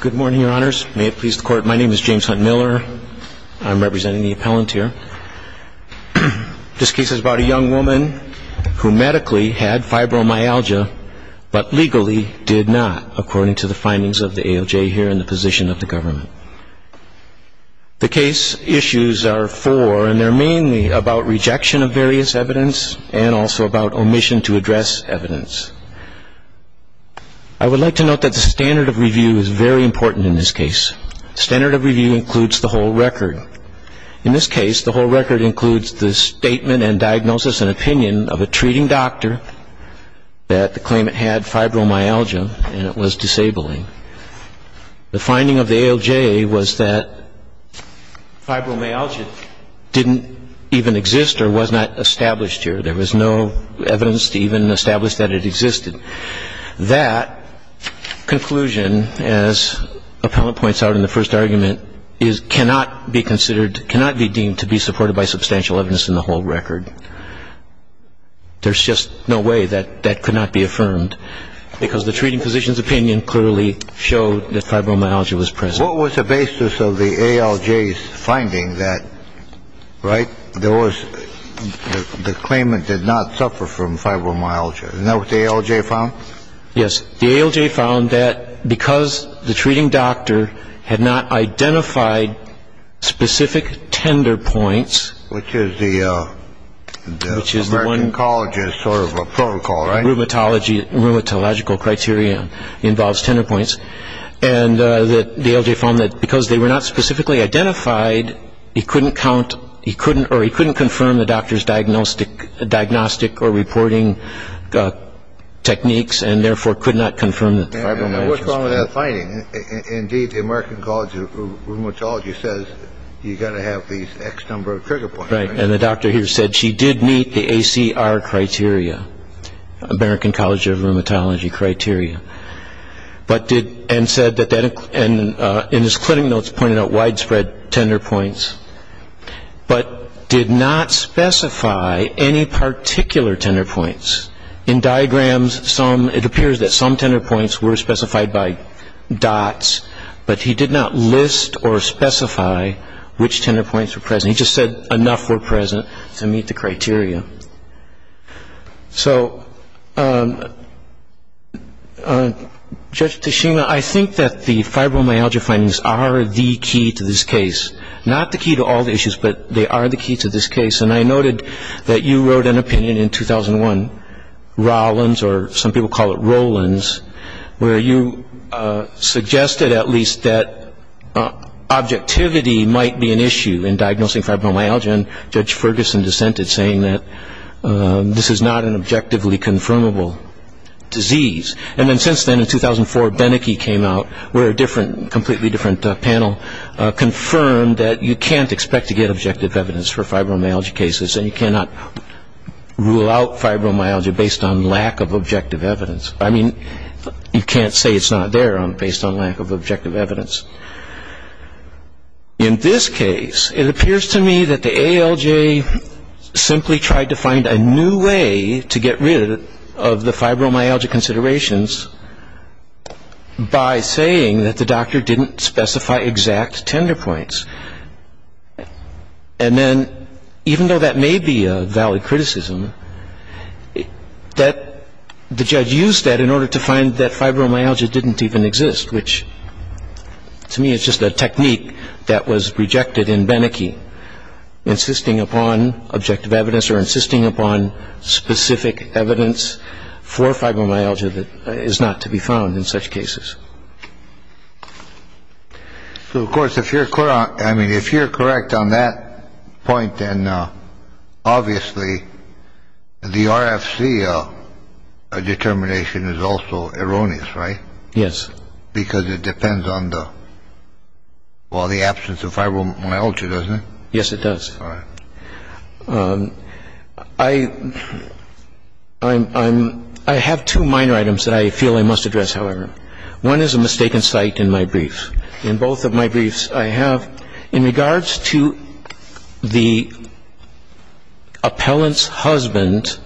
Good morning, your honors. May it please the court, my name is James Hunt Miller. I'm representing the appellant here. This case is about a young woman who medically had fibromyalgia, but legally did not, according to the findings of the AOJ here in the position of the government. The case issues are four, and they're mainly about rejection of various evidence and also about omission to address evidence. I would like to note that the standard of review is very important in this case. Standard of review includes the whole record. In this case, the whole record includes the statement and diagnosis and opinion of a treating doctor that the claimant had fibromyalgia and it was disabling. The finding of the AOJ was that fibromyalgia didn't even exist or was not established here. There was no evidence to even establish that it existed. That conclusion, as appellant points out in the first argument, is cannot be considered cannot be deemed to be supported by substantial evidence in the whole record. There's just no way that that could not be affirmed because the treating physician's opinion clearly showed that fibromyalgia was present. What was the basis of the AOJ's finding that, right? There was the claimant did not suffer from fibromyalgia. And that was the AOJ found? Yes. The AOJ found that because the treating doctor had not identified specific tender points, which is the American College is sort of a protocol, right? Rheumatological criteria involves tender points. And the AOJ found that because they were not specifically identified, he couldn't count or he couldn't confirm the doctor's diagnostic or reporting techniques and therefore could not confirm the fibromyalgia. And what's wrong with that finding? Indeed, the American College of Rheumatology says you've got to have these X number of trigger points. Right. And the doctor here said she did meet the ACR criteria, American College of Rheumatology criteria, and said that in his clinic notes pointed out widespread tender points, but did not specify any particular tender points. In diagrams, it appears that some tender points were specified by dots, but he did not list or specify which tender points were present. He just said enough were present to meet the criteria. So, Judge Tichina, I think that the fibromyalgia findings are the key to this case. Not the key to all the issues, but they are the key to this case. And I noted that you wrote an opinion in 2001, Rollins, or some people call it Rollins, where you suggested at least that objectivity might be an issue in diagnosing fibromyalgia, and Judge Ferguson dissented, saying that this is not an objectively confirmable disease. And then since then, in 2004, Beneke came out with a different, completely different panel, confirmed that you can't expect to get objective evidence for fibromyalgia cases and you cannot rule out fibromyalgia based on lack of objective evidence. I mean, you can't say it's not there based on lack of objective evidence. In this case, it appears to me that the ALJ simply tried to find a new way to get rid of the fibromyalgia considerations by saying that the doctor didn't specify exact tender points. And then even though that may be a valid criticism, the judge used that in order to find that fibromyalgia didn't even exist, which to me is just a technique that was rejected in Beneke, insisting upon objective evidence or insisting upon specific evidence for fibromyalgia that is not to be found in such cases. So, of course, if you're correct on that point, then obviously the RFC determination is also erroneous, right? Yes. Because it depends on the absence of fibromyalgia, doesn't it? Yes, it does. All right. I have two minor items that I feel I must address, however. One is a mistaken cite in my briefs. In both of my briefs, I have, in regards to the appellant's husband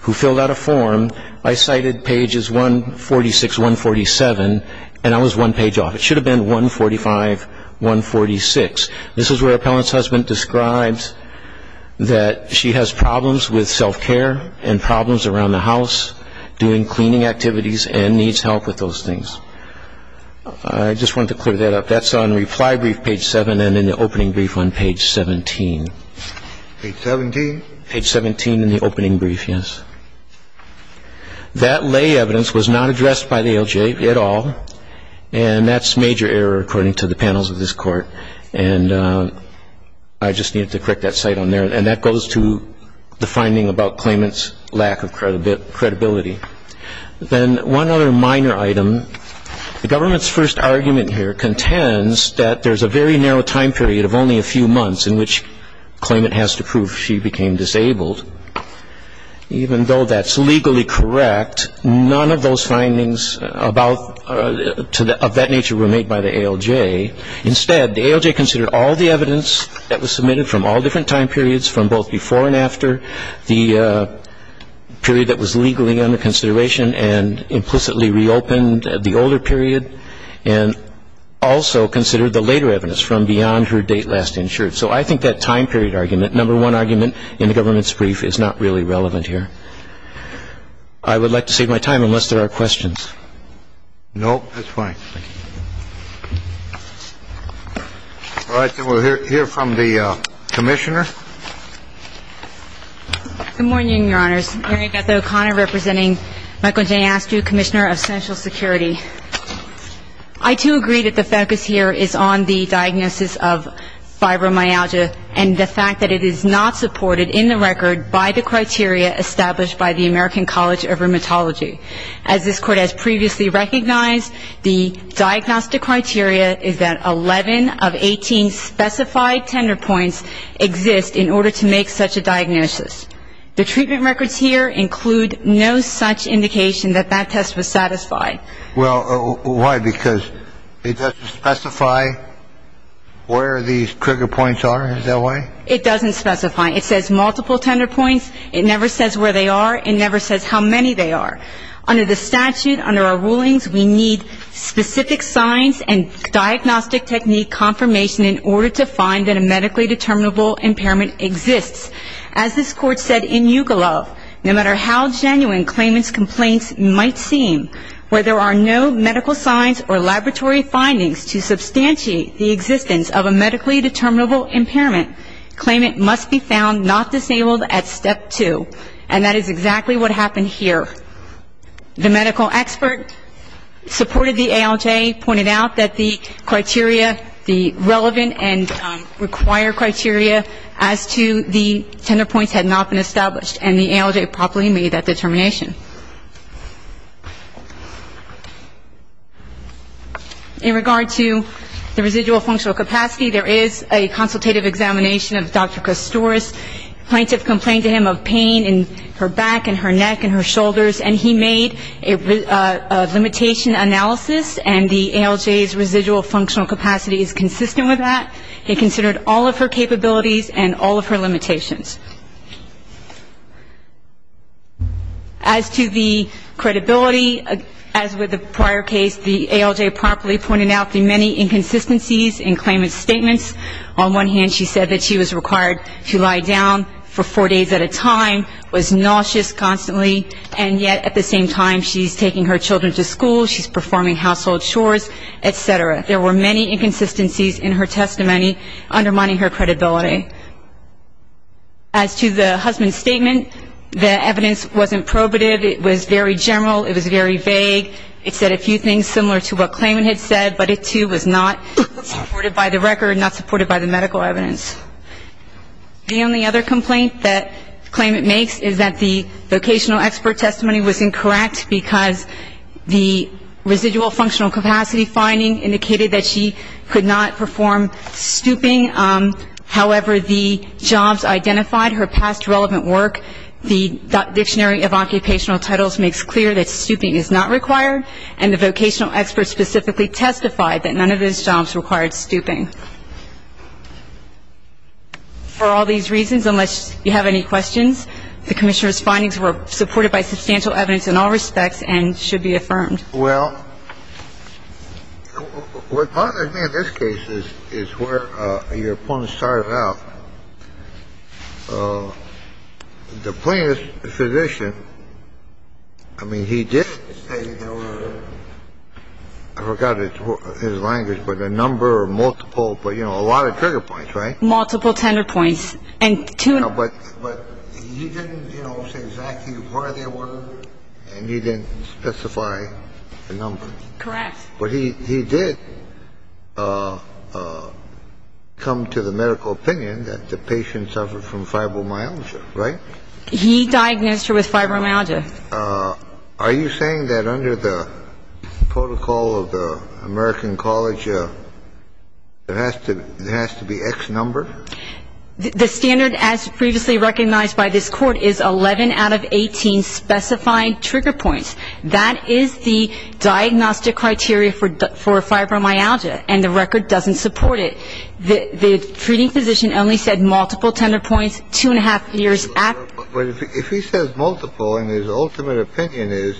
who filled out a form, I cited pages 146, 147, and I was one page off. It should have been 145, 146. This is where the appellant's husband describes that she has problems with self-care and problems around the house, doing cleaning activities, and needs help with those things. I just wanted to clear that up. That's on reply brief page 7 and in the opening brief on page 17. Page 17? Page 17 in the opening brief, yes. That lay evidence was not addressed by the ALJ at all, and that's major error according to the panels of this Court. And I just needed to correct that cite on there. And that goes to the finding about claimant's lack of credibility. Then one other minor item. The government's first argument here contends that there's a very narrow time period of only a few months in which the claimant has to prove she became disabled. Even though that's legally correct, none of those findings of that nature were made by the ALJ. Instead, the ALJ considered all the evidence that was submitted from all different time periods, from both before and after the period that was legally under consideration and implicitly reopened the older period, and also considered the later evidence from beyond her date last insured. So I think that time period argument, number one argument in the government's brief, is not really relevant here. I would like to save my time unless there are questions. No? That's fine. All right. Then we'll hear from the Commissioner. Good morning, Your Honors. Mary Beth O'Connor representing Michael J. Askew, Commissioner of Central Security. I, too, agree that the focus here is on the diagnosis of fibromyalgia and the fact that it is not supported in the record by the criteria established by the American College of Rheumatology. As this Court has previously recognized, the diagnostic criteria is that 11 of 18 specified tender points exist in order to make such a diagnosis. The treatment records here include no such indication that that test was satisfied. Well, why? Because it doesn't specify where these trigger points are? Is that why? It doesn't specify. It says multiple tender points. It never says where they are. It never says how many they are. Under the statute, under our rulings, we need specific signs and diagnostic technique confirmation in order to find that a medically determinable impairment exists. As this Court said in Yugalov, no matter how genuine claimant's complaints might seem, where there are no medical signs or laboratory findings to substantiate the existence of a medically determinable impairment, claimant must be found not disabled at step two. And that is exactly what happened here. The medical expert supported the ALJ, pointed out that the criteria, the relevant and required criteria as to the tender points had not been established, and the ALJ properly made that determination. In regard to the residual functional capacity, there is a consultative examination of Dr. Kostouris. Plaintiff complained to him of pain in her back and her neck and her shoulders, and he made a limitation analysis, and the ALJ's residual functional capacity is consistent with that. He considered all of her capabilities and all of her limitations. As to the credibility, as with the prior case, the ALJ properly pointed out the many inconsistencies in claimant's statements. On one hand, she said that she was required to lie down for four days at a time, was nauseous constantly, and yet at the same time she's taking her children to school, she's performing household chores, et cetera. There were many inconsistencies in her testimony undermining her credibility. As to the husband's statement, the evidence wasn't probative. It was very general. It was very vague. It said a few things similar to what claimant had said, but it too was not supported by the record, not supported by the medical evidence. The only other complaint that claimant makes is that the vocational expert testimony was incorrect because the residual functional capacity finding indicated that she could not perform stooping. However, the jobs identified, her past relevant work, the Dictionary of Occupational Titles makes clear that stooping is not required, and the vocational expert specifically testified that none of those jobs required stooping. For all these reasons, unless you have any questions, the Commissioner's findings were supported by substantial evidence in all respects and should be affirmed. Well, what bothers me in this case is where your opponent started out. The plaintiff's physician, I mean, he did say there were, I forgot his language, but a number or multiple, but, you know, a lot of trigger points, right? Multiple tenor points and two. But he didn't, you know, say exactly where they were, and he didn't specify the number. Correct. But he did come to the medical opinion that the patient suffered from fibromyalgia, right? He diagnosed her with fibromyalgia. Are you saying that under the protocol of the American College, there has to be X number? The standard, as previously recognized by this court, is 11 out of 18 specified trigger points. That is the diagnostic criteria for fibromyalgia, and the record doesn't support it. The treating physician only said multiple tenor points two and a half years after. But if he says multiple and his ultimate opinion is,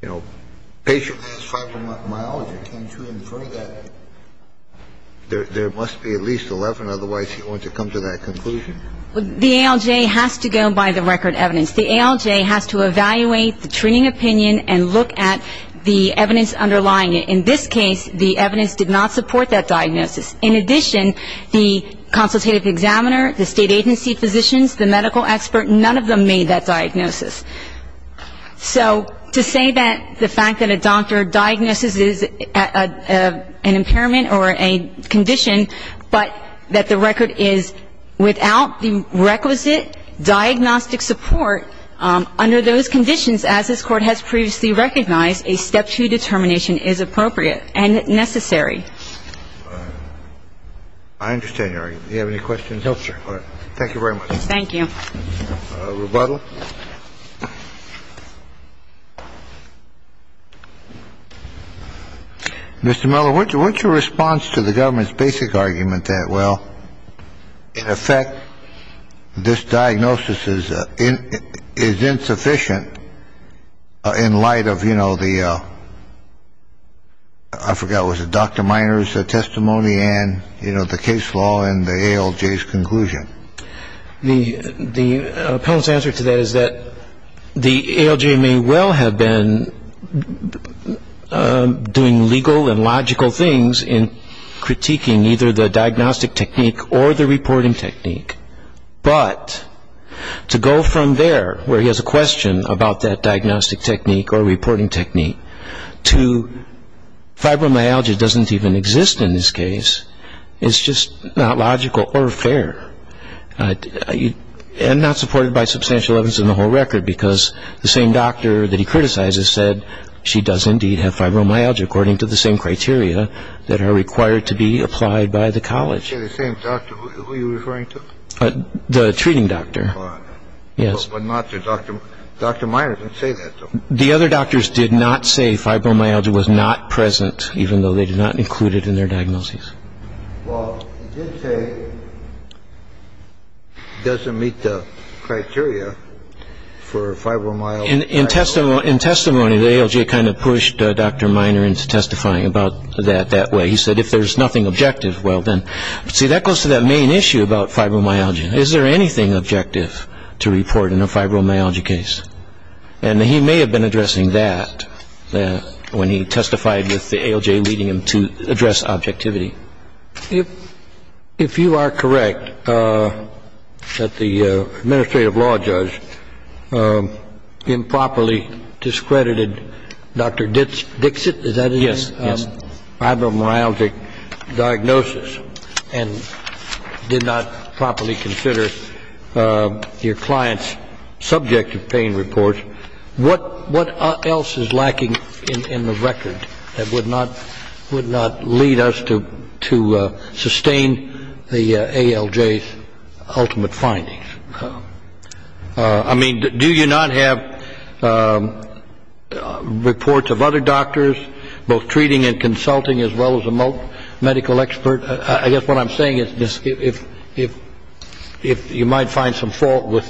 you know, patient has fibromyalgia, can't you infer that there must be at least 11, otherwise he wouldn't have come to that conclusion? The ALJ has to go by the record evidence. The ALJ has to evaluate the treating opinion and look at the evidence underlying it. In this case, the evidence did not support that diagnosis. In addition, the consultative examiner, the state agency physicians, the medical expert, none of them made that diagnosis. So to say that the fact that a doctor diagnoses an impairment or a condition, but that the record is without the requisite diagnostic support under those conditions as this Court has previously recognized, a step two determination is appropriate and necessary. I understand, Your Honor. Do you have any questions? No, sir. Thank you very much. Thank you. Rebuttal. Mr. Miller, what's your response to the government's basic argument that, well, in effect, this diagnosis is insufficient in light of, you know, the I forgot, was it Dr. Miner's testimony and, you know, the case law and the ALJ's conclusion? The appellant's answer to that is that the ALJ may well have been doing legal and logical things in critiquing either the diagnostic technique or the reporting technique, but to go from there, where he has a question about that diagnostic technique or reporting technique, to fibromyalgia doesn't even exist in this case. It's just not logical or fair and not supported by substantial evidence in the whole record because the same doctor that he criticizes said she does indeed have fibromyalgia, according to the same criteria that are required to be applied by the college. You say the same doctor? Who are you referring to? The treating doctor. Your Honor. Yes. But not the doctor. Dr. Miner didn't say that, though. The other doctors did not say fibromyalgia was not present, even though they did not include it in their diagnoses. Well, he did say it doesn't meet the criteria for fibromyalgia. In testimony, the ALJ kind of pushed Dr. Miner into testifying about that that way. He said if there's nothing objective, well then. See, that goes to that main issue about fibromyalgia. Is there anything objective to report in a fibromyalgia case? And he may have been addressing that when he testified with the ALJ leading him to address objectivity. If you are correct that the administrative law judge improperly discredited Dr. Dixit, is that his name? Yes. If you have a fibromyalgic diagnosis and did not properly consider your client's subjective pain report, what else is lacking in the record that would not lead us to sustain the ALJ's ultimate findings? I mean, do you not have reports of other doctors, both treating and consulting, as well as a medical expert? I guess what I'm saying is if you might find some fault with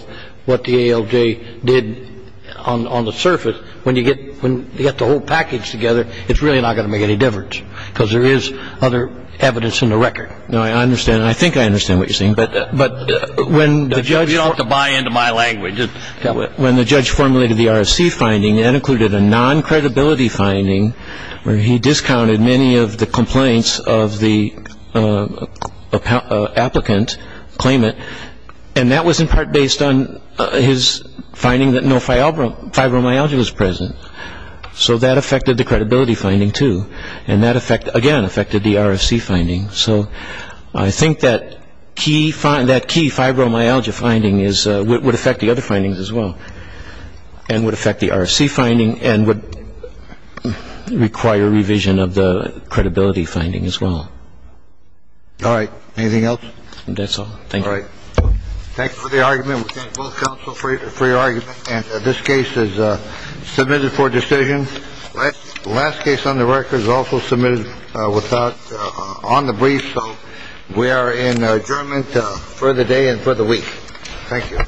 what the ALJ did on the surface, when you get the whole package together, it's really not going to make any difference because there is other evidence in the record. No, I understand. I think I understand what you're saying. You don't have to buy into my language. When the judge formulated the RFC finding, that included a non-credibility finding where he discounted many of the complaints of the applicant, claimant, and that was in part based on his finding that no fibromyalgia was present. So that affected the credibility finding, too, and that, again, affected the RFC finding. So I think that key fibromyalgia finding would affect the other findings as well and would affect the RFC finding and would require revision of the credibility finding as well. All right. Anything else? That's all. Thank you. All right. Thank you for the argument. We thank both counsel for your argument. And this case is submitted for decision. The last case on the record is also submitted on the brief. So we are in adjournment for the day and for the week. Thank you.